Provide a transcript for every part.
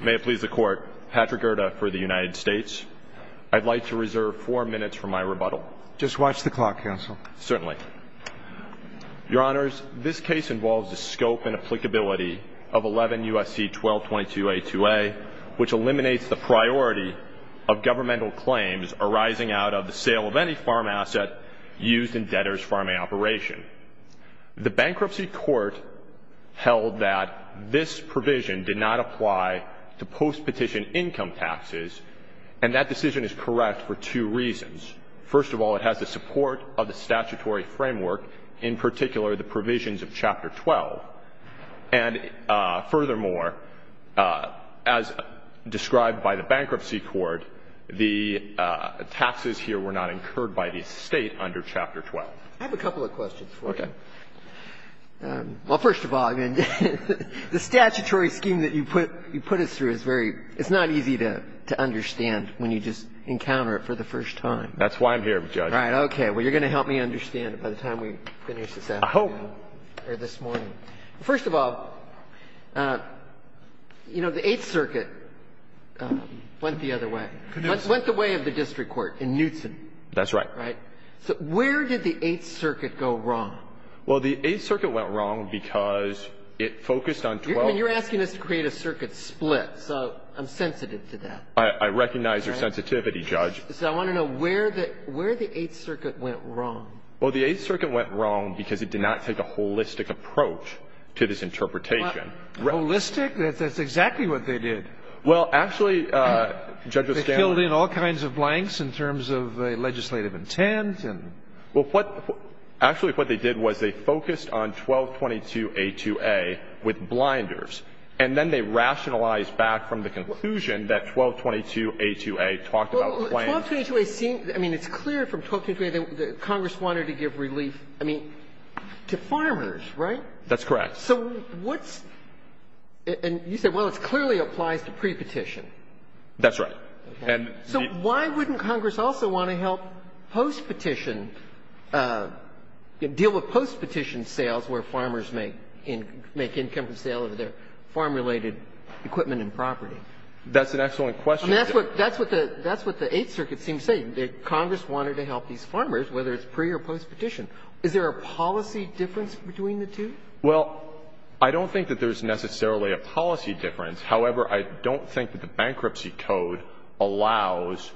May it please the Court, Patrick Gerda for the United States. I'd like to reserve four minutes for my rebuttal. Just watch the clock, Counsel. Certainly. Your Honors, this case involves the scope and applicability of 11 U.S.C. 1222a-2a, which eliminates the priority of governmental claims arising out of the sale of any farm asset used in debtors' farming operation. The Bankruptcy Court held that this provision did not apply to post-petition income taxes, and that decision is correct for two reasons. First of all, it has the support of the statutory framework, in particular the provisions of Chapter 12. And furthermore, as described by the Bankruptcy Court, the taxes here were not incurred by the State under Chapter 12. I have a couple of questions for you. Okay. Well, first of all, I mean, the statutory scheme that you put us through is very – it's not easy to understand when you just encounter it for the first time. That's why I'm here, Judge. Right. Okay. Well, you're going to help me understand it by the time we finish this afternoon or this morning. I hope. First of all, you know, the Eighth Circuit went the other way. It went the way of the district court in Knutson. That's right. Right. So where did the Eighth Circuit go wrong? Well, the Eighth Circuit went wrong because it focused on 12. You're asking us to create a circuit split, so I'm sensitive to that. I recognize your sensitivity, Judge. So I want to know where the Eighth Circuit went wrong. Well, the Eighth Circuit went wrong because it did not take a holistic approach to this interpretation. Holistic? That's exactly what they did. Well, actually, Judge O'Scanlon – They filled in all kinds of blanks in terms of legislative intent and – Well, what – actually, what they did was they focused on 1222a2a with blinders, and then they rationalized back from the conclusion that 1222a2a talked about claims – Well, 1222a2a seemed – I mean, it's clear from 1222a2a that Congress wanted to give relief, I mean, to farmers, right? That's correct. So what's – and you said, well, it clearly applies to pre-petition. That's right. So why wouldn't Congress also want to help post-petition – deal with post-petition sales where farmers make income from sale of their farm-related equipment and property? That's an excellent question. I mean, that's what the Eighth Circuit seems to say, that Congress wanted to help these farmers, whether it's pre- or post-petition. Is there a policy difference between the two? Well, I don't think that there's necessarily a policy difference. However, I don't think that the bankruptcy code allows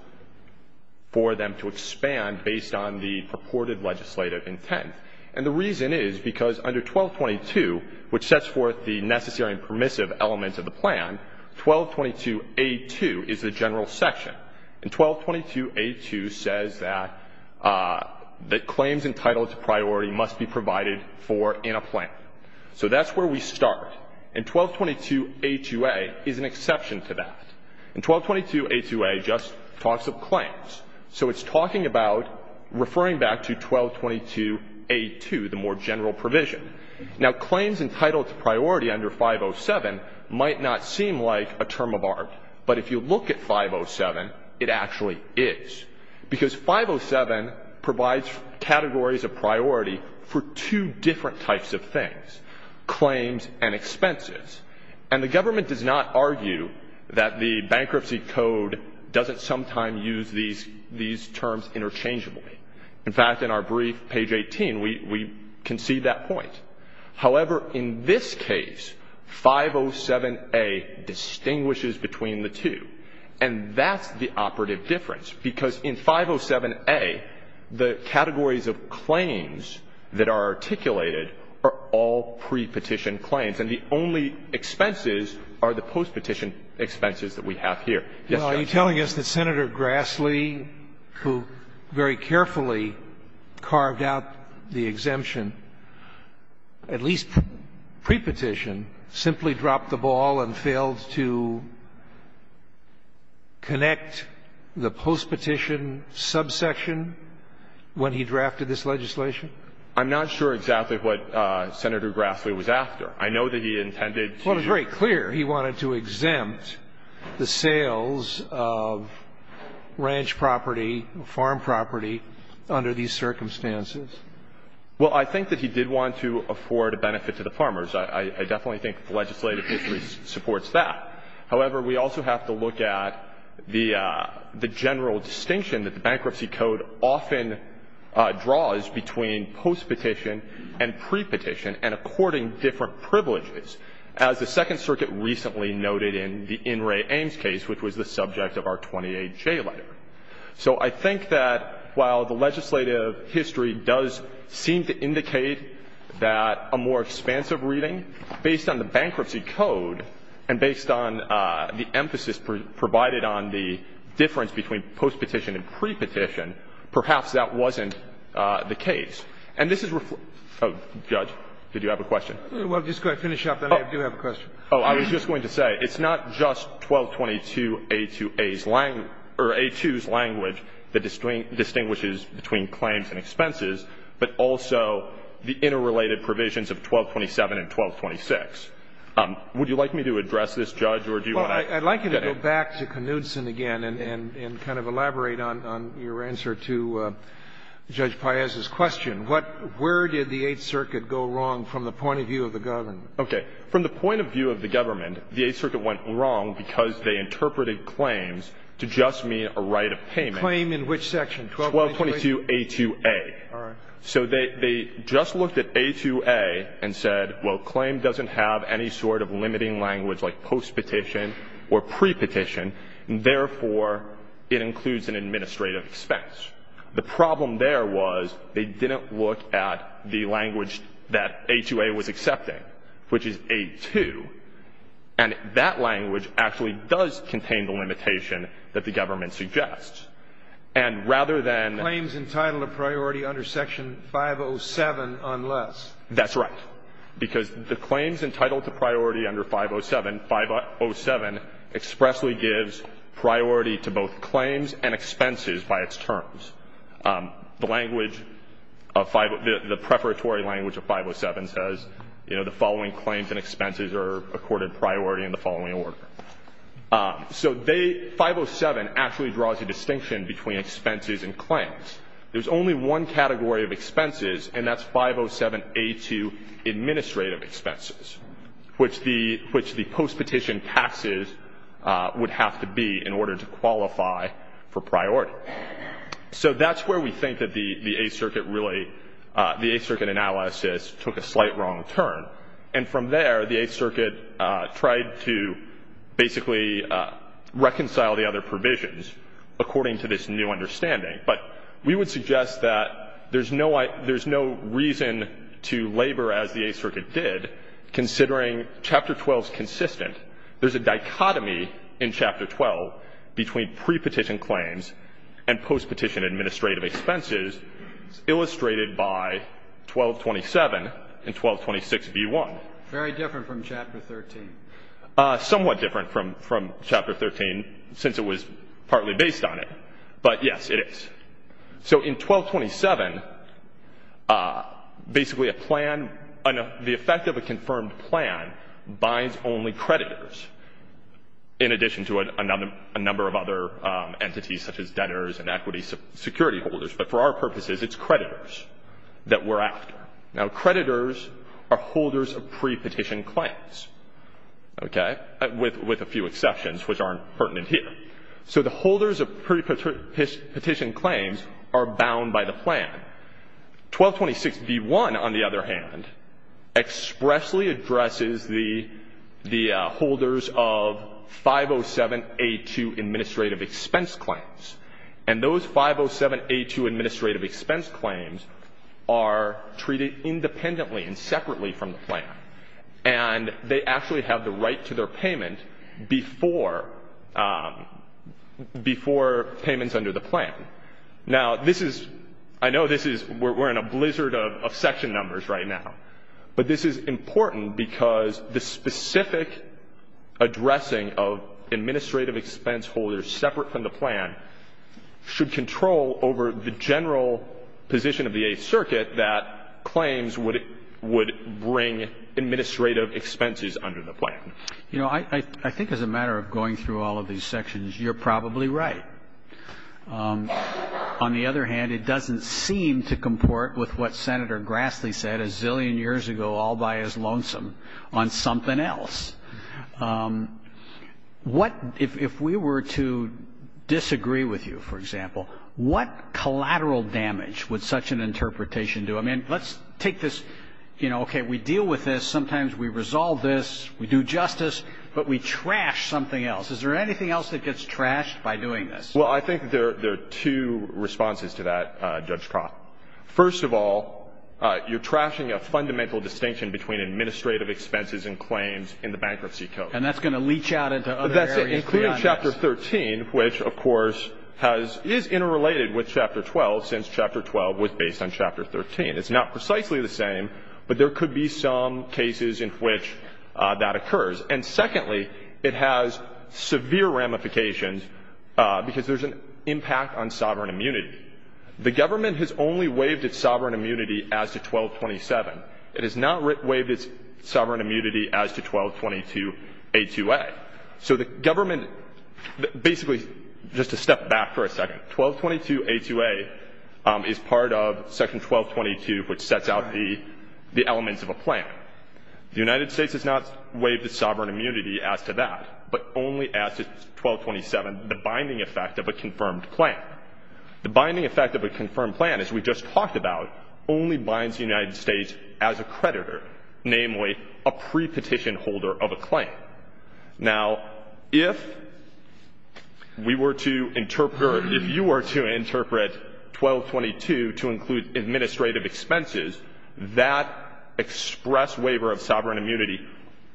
for them to expand based on the purported legislative intent. And the reason is because under 1222, which sets forth the necessary and permissive elements of the plan, 1222a2 is the general section. And 1222a2 says that claims entitled to priority must be provided for in a plan. So that's where we start. And 1222a2a is an exception to that. And 1222a2a just talks of claims. So it's talking about referring back to 1222a2, the more general provision. Now, claims entitled to priority under 507 might not seem like a term of art. But if you look at 507, it actually is. Because 507 provides categories of priority for two different types of things, claims and expenses. And the government does not argue that the bankruptcy code doesn't sometimes use these terms interchangeably. In fact, in our brief, page 18, we concede that point. However, in this case, 507a distinguishes between the two. And that's the operative difference. Because in 507a, the categories of claims that are articulated are all prepetition claims. And the only expenses are the postpetition expenses that we have here. Yes, Judge. Are you telling us that Senator Grassley, who very carefully carved out the exemption, at least prepetition, simply dropped the ball and failed to connect the postpetition subsection when he drafted this legislation? I'm not sure exactly what Senator Grassley was after. I know that he intended to do that. But I'm not sure that he was after the sales of ranch property, farm property, under these circumstances. Well, I think that he did want to afford a benefit to the farmers. I definitely think the legislative history supports that. However, we also have to look at the general distinction that the bankruptcy code often draws between postpetition and prepetition and according to different privileges, as the Second Circuit recently noted in the In re Ames case, which was the subject of our 28J letter. So I think that while the legislative history does seem to indicate that a more expansive reading, based on the bankruptcy code and based on the emphasis provided on the difference between postpetition and prepetition, perhaps that wasn't the case. And this is ref Oh, Judge, did you have a question? Well, just going to finish up, then I do have a question. Oh, I was just going to say, it's not just 1222A2A's language or A2's language that distinguishes between claims and expenses, but also the interrelated provisions of 1227 and 1226. Would you like me to address this, Judge, or do you want to get in? I want to go back to Knudson again and kind of elaborate on your answer to Judge Paez's question. Where did the Eighth Circuit go wrong from the point of view of the government? Okay. From the point of view of the government, the Eighth Circuit went wrong because they interpreted claims to just mean a right of payment. Claim in which section? 1222A2A. All right. So they just looked at A2A and said, well, claim doesn't have any sort of limiting language like postpetition or prepetition, and therefore, it includes an administrative expense. The problem there was they didn't look at the language that A2A was accepting, which is A2, and that language actually does contain the limitation that the government suggests. And rather than — Claims entitled to priority under section 507 unless. That's right. Because the claims entitled to priority under 507, 507 expressly gives priority to both claims and expenses by its terms. The language of — the preparatory language of 507 says, you know, the following claims and expenses are accorded priority in the following order. So they — 507 actually draws a distinction between expenses and claims. There's only one category of expenses, and that's 507A2 administrative expenses, which the — which the postpetition taxes would have to be in order to qualify for priority. So that's where we think that the Eighth Circuit really — the Eighth Circuit analysis took a slight wrong turn. And from there, the Eighth Circuit tried to basically reconcile the other provisions according to this new understanding. But we would suggest that there's no — there's no reason to labor as the Eighth Circuit did, considering Chapter 12 is consistent. There's a dichotomy in Chapter 12 between prepetition claims and postpetition administrative expenses illustrated by 1227 and 1226v1. Very different from Chapter 13. Somewhat different from — from Chapter 13, since it was partly based on it. But, yes, it is. So in 1227, basically a plan — the effect of a confirmed plan binds only creditors, in addition to a number of other entities, such as debtors and equity security holders. But for our purposes, it's creditors that we're after. Now, creditors are holders of prepetition claims, okay, with a few exceptions, which aren't pertinent here. So the holders of prepetition claims are bound by the plan. 1226v1, on the other hand, expressly addresses the — the holders of 507A2 administrative expense claims. And those 507A2 administrative expense claims are treated independently and separately from the plan. And they actually have the right to their payment before — before payments under the plan. Now, this is — I know this is — we're in a blizzard of section numbers right now. But this is important because the specific addressing of administrative expense holders separate from the plan should control over the general position of the Eighth Circuit that claims would — would bring administrative expenses under the plan. You know, I think as a matter of going through all of these sections, you're probably right. On the other hand, it doesn't seem to comport with what Senator Grassley said a zillion years ago, all by his lonesome, on something else. What — if we were to disagree with you, for example, what collateral damage would such an interpretation do? I mean, let's take this — you know, okay, we deal with this. Sometimes we resolve this. We do justice. But we trash something else. Is there anything else that gets trashed by doing this? Well, I think there are two responses to that, Judge Croft. First of all, you're trashing a fundamental distinction between administrative expenses and claims in the Bankruptcy Code. And that's going to leach out into other areas beyond this. And it's been interrelated with Chapter 12 since Chapter 12 was based on Chapter 13. It's not precisely the same, but there could be some cases in which that occurs. And secondly, it has severe ramifications because there's an impact on sovereign immunity. The government has only waived its sovereign immunity as to 1227. It has not waived its sovereign immunity as to 1222a2a. So the government — basically, just to step back for a second, 1222a2a is part of Section 1222, which sets out the elements of a plan. The United States has not waived its sovereign immunity as to that, but only as to 1227, the binding effect of a confirmed plan. The binding effect of a confirmed plan, as we just talked about, only binds the United States as a creditor, namely a pre-petition holder of a claim. Now, if we were to interpret — or if you were to interpret 1222 to include administrative expenses, that express waiver of sovereign immunity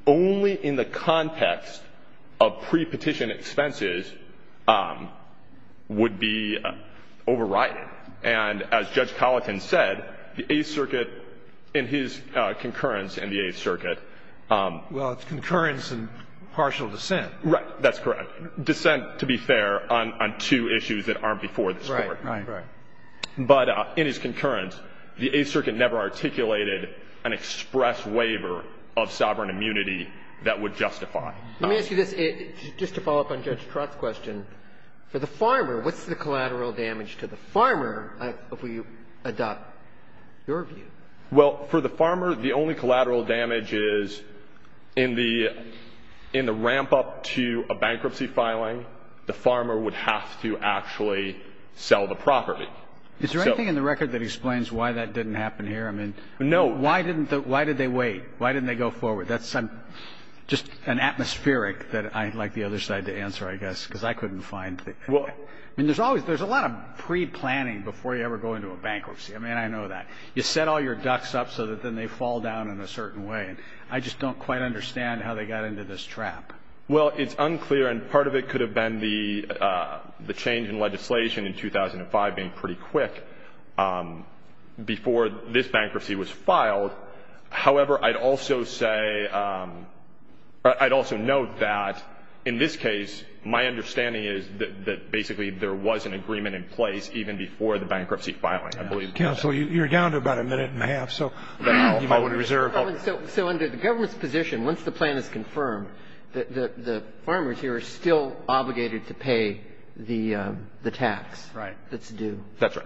only in the context of pre-petition expenses would be overrided. And as Judge Colleton said, the Eighth Circuit, in his concurrence in the Eighth Circuit — And that's in partial dissent. Right. That's correct. Dissent, to be fair, on two issues that aren't before the Court. Right, right, right. But in his concurrence, the Eighth Circuit never articulated an express waiver of sovereign immunity that would justify. Let me ask you this, just to follow up on Judge Trott's question. For the farmer, what's the collateral damage to the farmer, if we adopt your view? Well, for the farmer, the only collateral damage is in the ramp-up to a bankruptcy filing, the farmer would have to actually sell the property. Is there anything in the record that explains why that didn't happen here? No. I mean, why did they wait? Why didn't they go forward? That's just an atmospheric that I'd like the other side to answer, I guess, because I couldn't find the — Well — I mean, there's always — there's a lot of pre-planning before you ever go into a bankruptcy. I mean, I know that. You set all your ducks up so that then they fall down in a certain way. I just don't quite understand how they got into this trap. Well, it's unclear, and part of it could have been the change in legislation in 2005 being pretty quick before this bankruptcy was filed. However, I'd also say — I'd also note that, in this case, my understanding is that basically there was an agreement in place even before the bankruptcy filing, I believe. Counsel, you're down to about a minute and a half, so you might want to reserve — So under the government's position, once the plan is confirmed, the farmers here are still obligated to pay the tax that's due. That's right.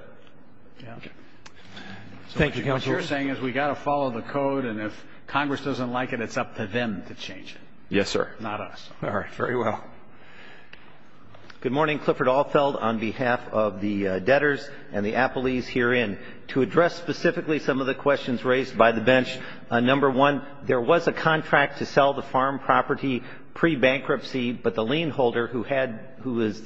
Thank you, Counsel. What you're saying is we've got to follow the code, and if Congress doesn't like it, it's up to them to change it. Yes, sir. Not us. All right. Very well. Good morning. Clifford Alfeld on behalf of the debtors and the appellees herein. To address specifically some of the questions raised by the bench, number one, there was a contract to sell the farm property pre-bankruptcy, but the lien holder who was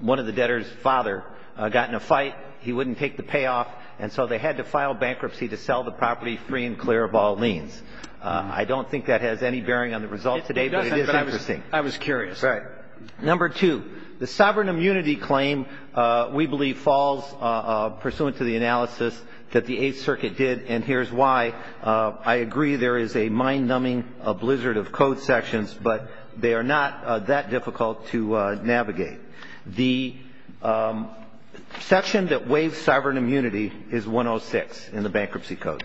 one of the debtors' father got in a fight. He wouldn't take the payoff, and so they had to file bankruptcy to sell the property free and clear of all liens. I don't think that has any bearing on the result today, but it is interesting. I was curious. Right. Number two, the sovereign immunity claim, we believe, falls pursuant to the analysis that the Eighth Circuit did, and here's why I agree there is a mind-numbing blizzard of code sections, but they are not that difficult to navigate. The section that waives sovereign immunity is 106 in the Bankruptcy Code,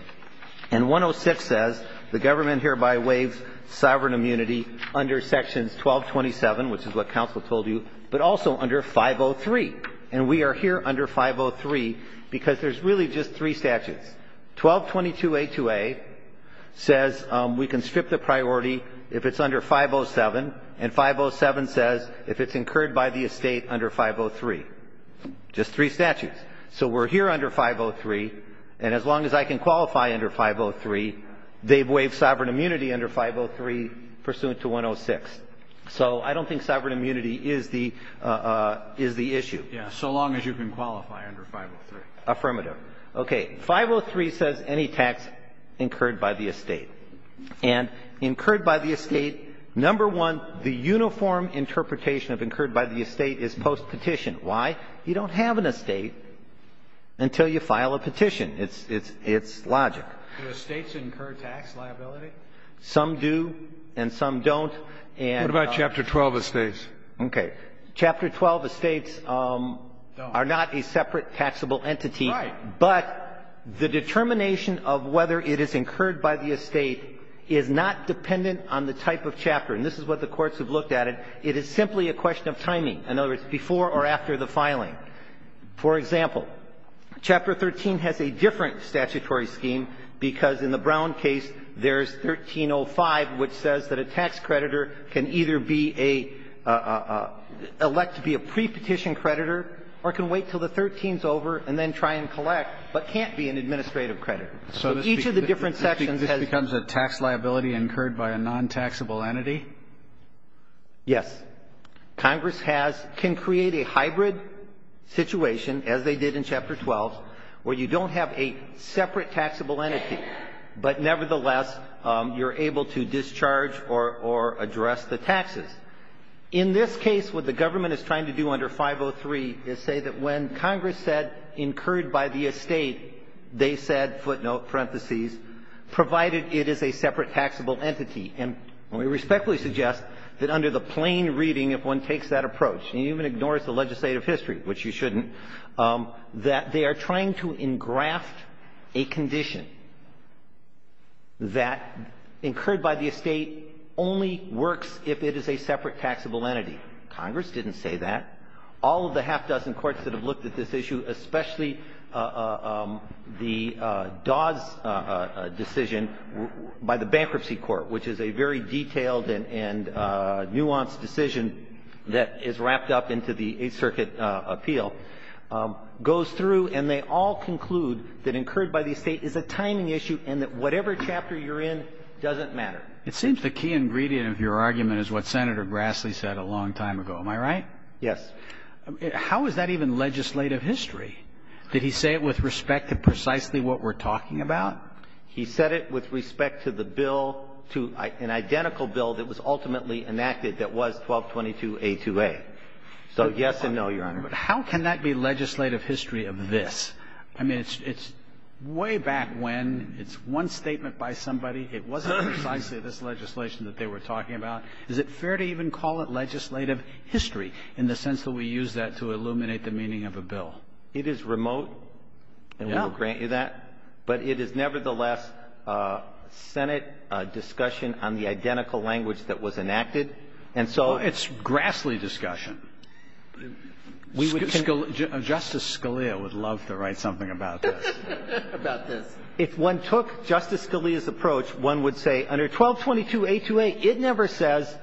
and 106 says the government hereby waives sovereign immunity under sections 1227, which is what counsel told you, but also under 503, and we are here under 503 because there's really just three statutes. 1222A2A says we can strip the priority if it's under 507, and 507 says if it's incurred by the estate under 503, just three statutes. So we're here under 503, and as long as I can qualify under 503, they've waived sovereign immunity under 503 pursuant to 106. So I don't think sovereign immunity is the issue. Yes. So long as you can qualify under 503. Affirmative. Okay. 503 says any tax incurred by the estate, and incurred by the estate, number one, the uniform interpretation of incurred by the estate is postpetition. Why? You don't have an estate until you file a petition. It's logic. Do estates incur tax liability? Some do and some don't. What about Chapter 12 estates? Okay. Chapter 12 estates are not a separate taxable entity. Right. But the determination of whether it is incurred by the estate is not dependent on the type of chapter. And this is what the courts have looked at it. It is simply a question of timing. In other words, before or after the filing. For example, Chapter 13 has a different statutory scheme, because in the Brown case, there's 1305, which says that a tax creditor can either be a elect to be a prepetition creditor or can wait until the 13th is over and then try and collect, but can't be an administrative creditor. So each of the different sections has to be a taxable entity? Yes. Congress has, can create a hybrid situation, as they did in Chapter 12, where you don't have a separate taxable entity, but nevertheless, you're able to discharge or address the taxes. In this case, what the government is trying to do under 503 is say that when Congress said incurred by the estate, they said, footnote, parentheses, provided it is a separate taxable entity. And we respectfully suggest that under the plain reading, if one takes that approach and even ignores the legislative history, which you shouldn't, that they are trying to engraft a condition that incurred by the estate only works if it is a separate taxable entity. Congress didn't say that. All of the half-dozen courts that have looked at this issue, especially the Dawes decision by the Bankruptcy Court, which is a very detailed and nuanced decision that is wrapped up into the Eighth Circuit appeal, goes through and they all conclude that incurred by the estate is a timing issue and that whatever chapter you're in doesn't matter. It seems the key ingredient of your argument is what Senator Grassley said a long time ago. Am I right? Yes. How is that even legislative history? Did he say it with respect to precisely what we're talking about? He said it with respect to the bill, to an identical bill that was ultimately enacted that was 1222a2a. So yes and no, Your Honor. But how can that be legislative history of this? I mean, it's way back when. It's one statement by somebody. It wasn't precisely this legislation that they were talking about. Is it fair to even call it legislative history in the sense that we use that to illuminate the meaning of a bill? It is remote. Yeah. And we will grant you that. But it is nevertheless Senate discussion on the identical language that was enacted. And so — Well, it's Grassley discussion. Justice Scalia would love to write something about this. About this. If one took Justice Scalia's approach, one would say under 1222a2a, it never says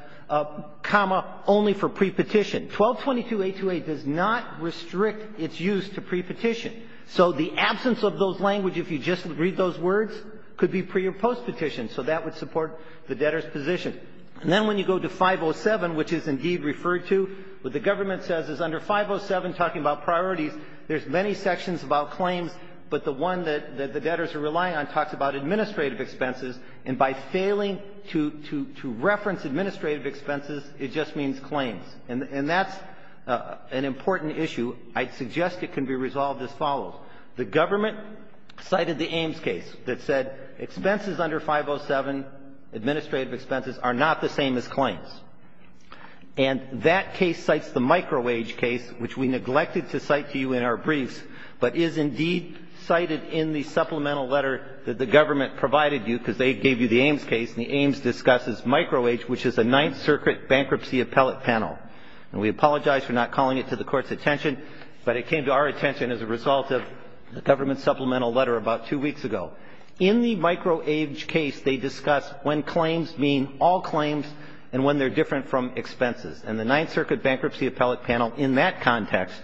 comma only for prepetition. 1222a2a does not restrict its use to prepetition. So the absence of those language, if you just read those words, could be pre- or postpetition. So that would support the debtor's position. And then when you go to 507, which is indeed referred to, what the government says is under 507, talking about priorities, there's many sections about claims, but the one that the debtors are relying on talks about administrative expenses, and by failing to reference administrative expenses, it just means claims. And that's an important issue. I'd suggest it can be resolved as follows. The government cited the Ames case that said expenses under 507, administrative expenses, are not the same as claims. And that case cites the micro-wage case, which we neglected to cite to you in our briefs, but is indeed cited in the supplemental letter that the government provided you, because they gave you the Ames case, and the Ames discusses micro-wage, which is a Ninth Circuit bankruptcy appellate panel. And we apologize for not calling it to the Court's attention, but it came to our attention as a result of the government's supplemental letter about two weeks ago. In the micro-wage case, they discuss when claims mean all claims and when they're different from expenses. And the Ninth Circuit bankruptcy appellate panel, in that context,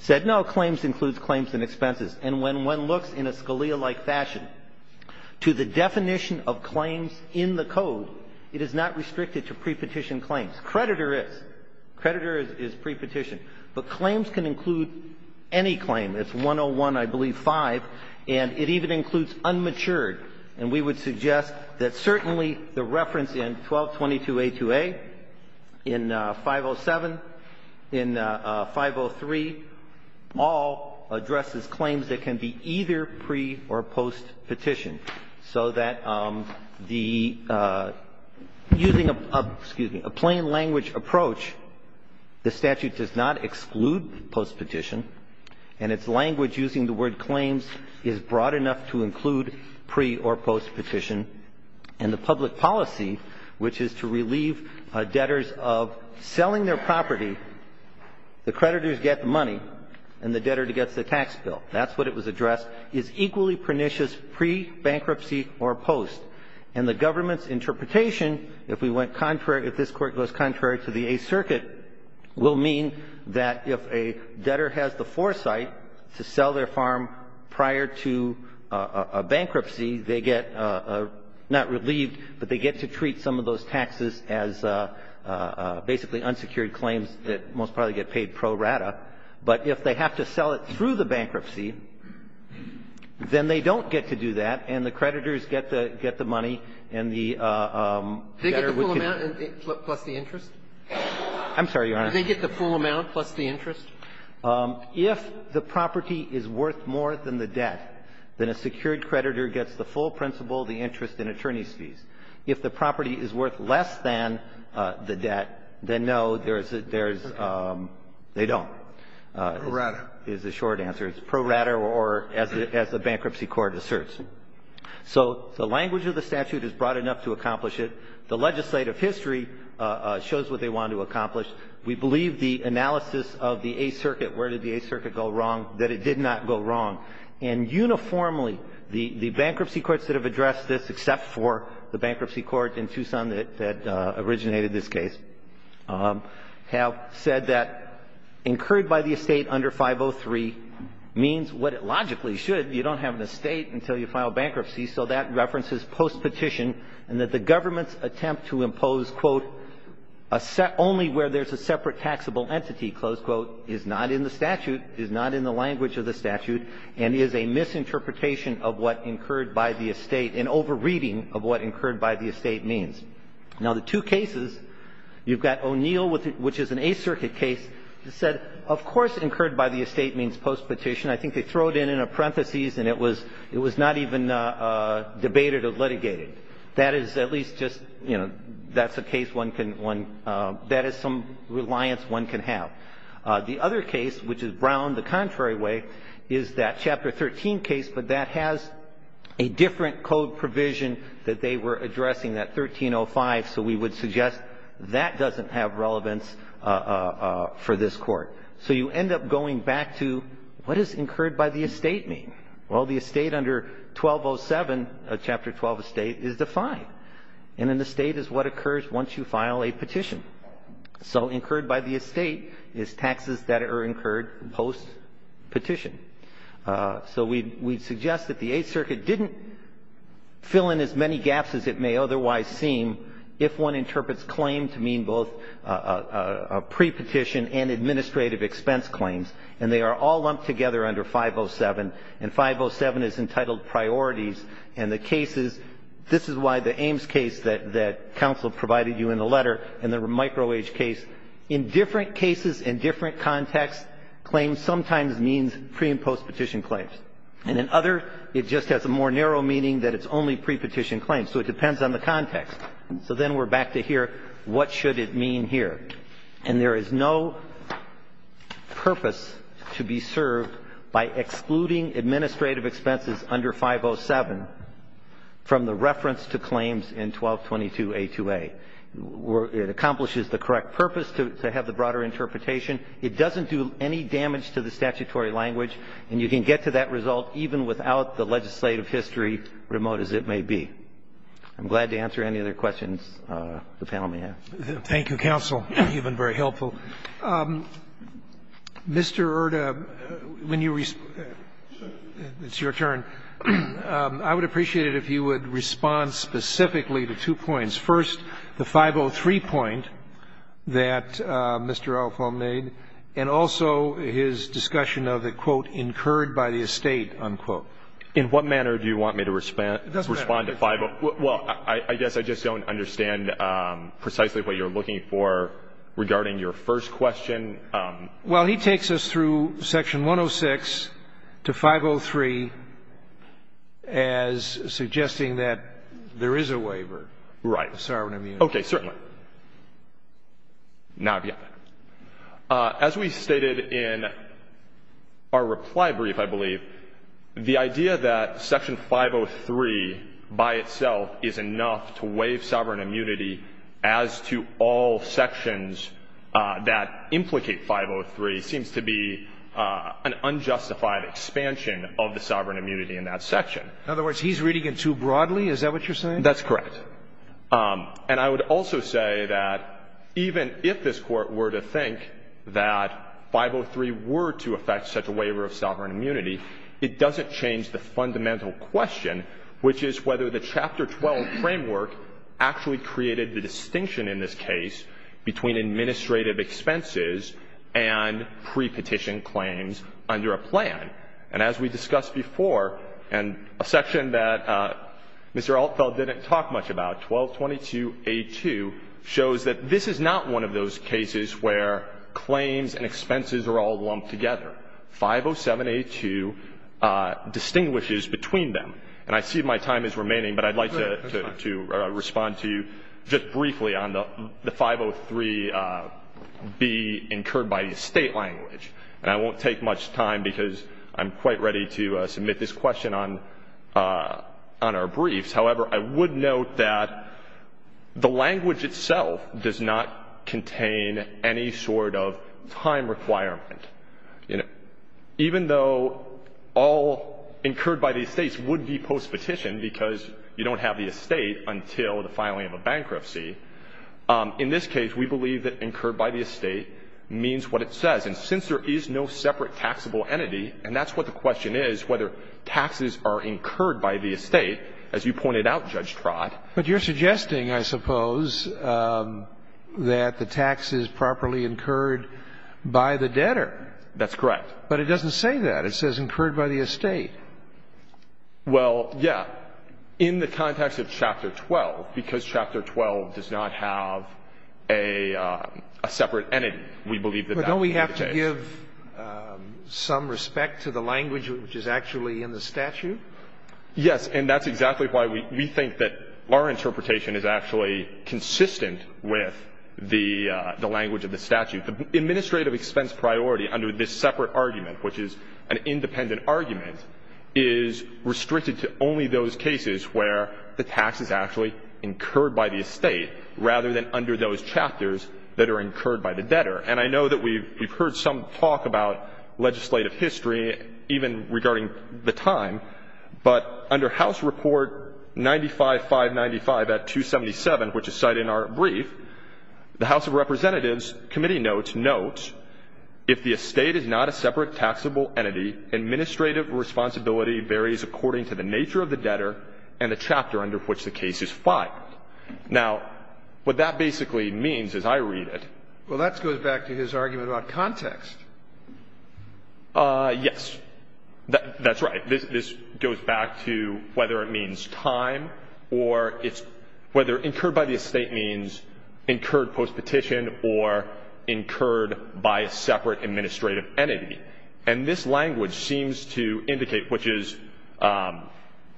said no, claims includes claims and expenses. And when one looks in a Scalia-like fashion to the definition of claims in the code, it is not restricted to prepetition claims. Creditor is. Creditor is prepetition. But claims can include any claim. It's 101, I believe, 5. And it even includes unmatured. And we would suggest that certainly the reference in 1222a2a, in 507, in 503, all addresses claims that can be either pre- or post-petition, so that the using a plain language approach, the statute does not exclude post-petition, and its language using the word claims is broad enough to include pre- or post-petition. And the public policy, which is to relieve debtors of selling their property, the creditors get the money and the debtor gets the tax bill. That's what it was addressed, is equally pernicious pre-bankruptcy or post. And the government's interpretation, if we went contrary, if this Court goes contrary to the Eighth Circuit, will mean that if a debtor has the foresight to sell their farm prior to a bankruptcy, they get not relieved, but they get to treat some of those debtors, most probably get paid pro rata, but if they have to sell it through the bankruptcy, then they don't get to do that, and the creditors get the money and the debtor would get the full amount plus the interest? If the property is worth more than the debt, then a secured creditor gets the full principal, the interest, and attorney's fees. If the property is worth less than the debt, then no, there's a – there's – they don't. Pro rata. Is the short answer. It's pro rata or, as the Bankruptcy Court asserts. So the language of the statute is broad enough to accomplish it. The legislative history shows what they wanted to accomplish. We believe the analysis of the Eighth Circuit, where did the Eighth Circuit go wrong, that it did not go wrong. And uniformly, the bankruptcy courts that have addressed this, except for the bankruptcy court in Tucson that originated this case, have said that incurred by the estate under 503 means what it logically should. You don't have an estate until you file bankruptcy, so that references postpetition and that the government's attempt to impose, quote, only where there's a separate taxable entity, close quote, is not in the statute, is not in the language of the statute, and is a misinterpretation of what incurred by the estate, an over-reading of what incurred by the estate means. Now, the two cases, you've got O'Neill, which is an Eighth Circuit case, said of course incurred by the estate means postpetition. I think they throw it in in a parenthesis and it was not even debated or litigated. That is at least just, you know, that's a case one can – that is some reliance one can have. The other case, which is Brown the contrary way, is that Chapter 13 case, but that has a different code provision that they were addressing, that 1305, so we would suggest that doesn't have relevance for this Court. So you end up going back to what does incurred by the estate mean? Well, the estate under 1207, Chapter 12 estate, is defined, and an estate is what occurs once you file a petition. So incurred by the estate is taxes that are incurred postpetition. So we'd suggest that the Eighth Circuit didn't fill in as many gaps as it may otherwise seem if one interprets claim to mean both a prepetition and administrative expense claims, and they are all lumped together under 507, and 507 is entitled priorities. And the cases – this is why the Ames case that counsel provided you in the letter and the microage case, in different cases, in different contexts, claims sometimes means pre- and postpetition claims. And in other, it just has a more narrow meaning that it's only prepetition claims. So it depends on the context. So then we're back to here, what should it mean here? And there is no purpose to be served by excluding administrative expenses under 507 from the reference to claims in 1222A2A. It accomplishes the correct purpose to have the broader interpretation. It doesn't do any damage to the statutory language. And you can get to that result even without the legislative history, remote as it may be. I'm glad to answer any other questions the panel may have. Thank you, counsel. You've been very helpful. Mr. Erta, when you – it's your turn. I would appreciate it if you would respond specifically to two points. First, the 503 point that Mr. Althoff made, and also his discussion of the, quote, incurred by the estate, unquote. In what manner do you want me to respond to 503? Well, I guess I just don't understand precisely what you're looking for regarding your first question. Well, he takes us through section 106 to 503 as suggesting that there is a waiver. Right. Of sovereign immunity. Okay, certainly. Now, as we stated in our reply brief, I believe, the idea that section 503 by itself is enough to waive sovereign immunity as to all sections that implicate 503 seems to be an unjustified expansion of the sovereign immunity in that section. In other words, he's reading it too broadly? Is that what you're saying? That's correct. And I would also say that even if this Court were to think that 503 were to affect such a waiver of sovereign immunity, it doesn't change the fundamental question, which is whether the Chapter 12 framework actually created the distinction in this case between administrative expenses and pre-petition claims under a plan. And as we discussed before, and a section that Mr. Altfeld didn't talk much about, 1222A2, shows that this is not one of those cases where claims and expenses are all lumped together. 507A2 distinguishes between them. And I see my time is remaining, but I'd like to respond to you just briefly on the 503B incurred by the State language. And I won't take much time, because I'm quite ready to submit this question on our briefs. However, I would note that the language itself does not contain any sort of time requirement. Even though all incurred by the Estates would be post-petition, because you don't have the estate until the filing of a bankruptcy, in this case we believe that incurred by the estate means what it says. And since there is no separate taxable entity, and that's what the question is, whether taxes are incurred by the estate, as you pointed out, Judge Trott. But you're suggesting, I suppose, that the tax is properly incurred by the debtor. That's correct. But it doesn't say that. It says incurred by the estate. Well, yeah. In the context of Chapter 12, because Chapter 12 does not have a separate entity, we believe that that would be the case. But don't we have to give some respect to the language which is actually in the statute? Yes. And that's exactly why we think that our interpretation is actually consistent with the language of the statute. Administrative expense priority under this separate argument, which is an independent argument, is restricted to only those cases where the tax is actually incurred by the estate rather than under those chapters that are incurred by the debtor. And I know that we've heard some talk about legislative history, even regarding the time. But under House Report 95-595 at 277, which is cited in our brief, the House of Representatives Committee notes, notes, if the estate is not a separate taxable entity, administrative responsibility varies according to the nature of the debtor and the chapter under which the case is filed. Now, what that basically means, as I read it. Well, that goes back to his argument about context. Yes. That's right. This goes back to whether it means time or it's whether incurred by the estate means incurred postpetition or incurred by a separate administrative entity. And this language seems to indicate, which is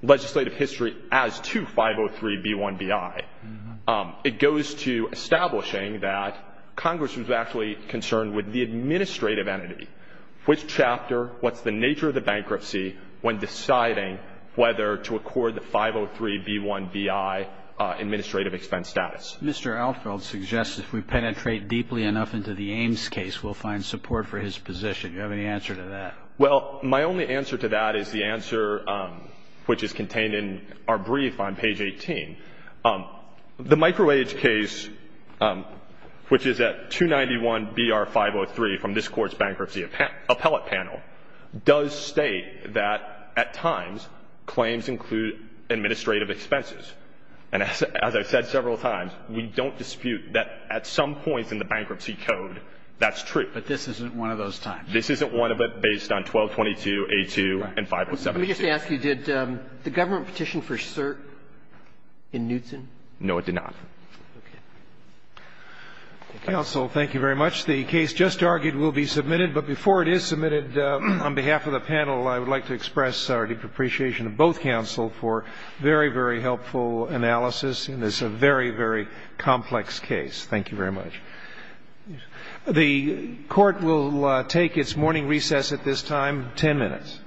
legislative history as to 503b1bI. It goes to establishing that Congress was actually concerned with the administrative entity, which chapter, what's the nature of the bankruptcy when deciding whether to accord the 503b1bI administrative expense status. Mr. Alfield suggests if we penetrate deeply enough into the Ames case, we'll find support for his position. Do you have any answer to that? Well, my only answer to that is the answer which is contained in our brief on page 18. The microage case, which is at 291br503 from this Court's bankruptcy appellate panel, does state that at times claims include administrative expenses. And as I've said several times, we don't dispute that at some points in the bankruptcy code that's true. But this isn't one of those times. This isn't one of it based on 1222a2 and 507a2. Let me just ask you, did the government petition for cert in Knutson? No, it did not. Okay. Counsel, thank you very much. The case just argued will be submitted. But before it is submitted, on behalf of the panel, I would like to express our deep appreciation to both counsel for a very, very helpful analysis in this very, very complex case. Thank you very much. The Court will take its morning recess at this time. Ten minutes.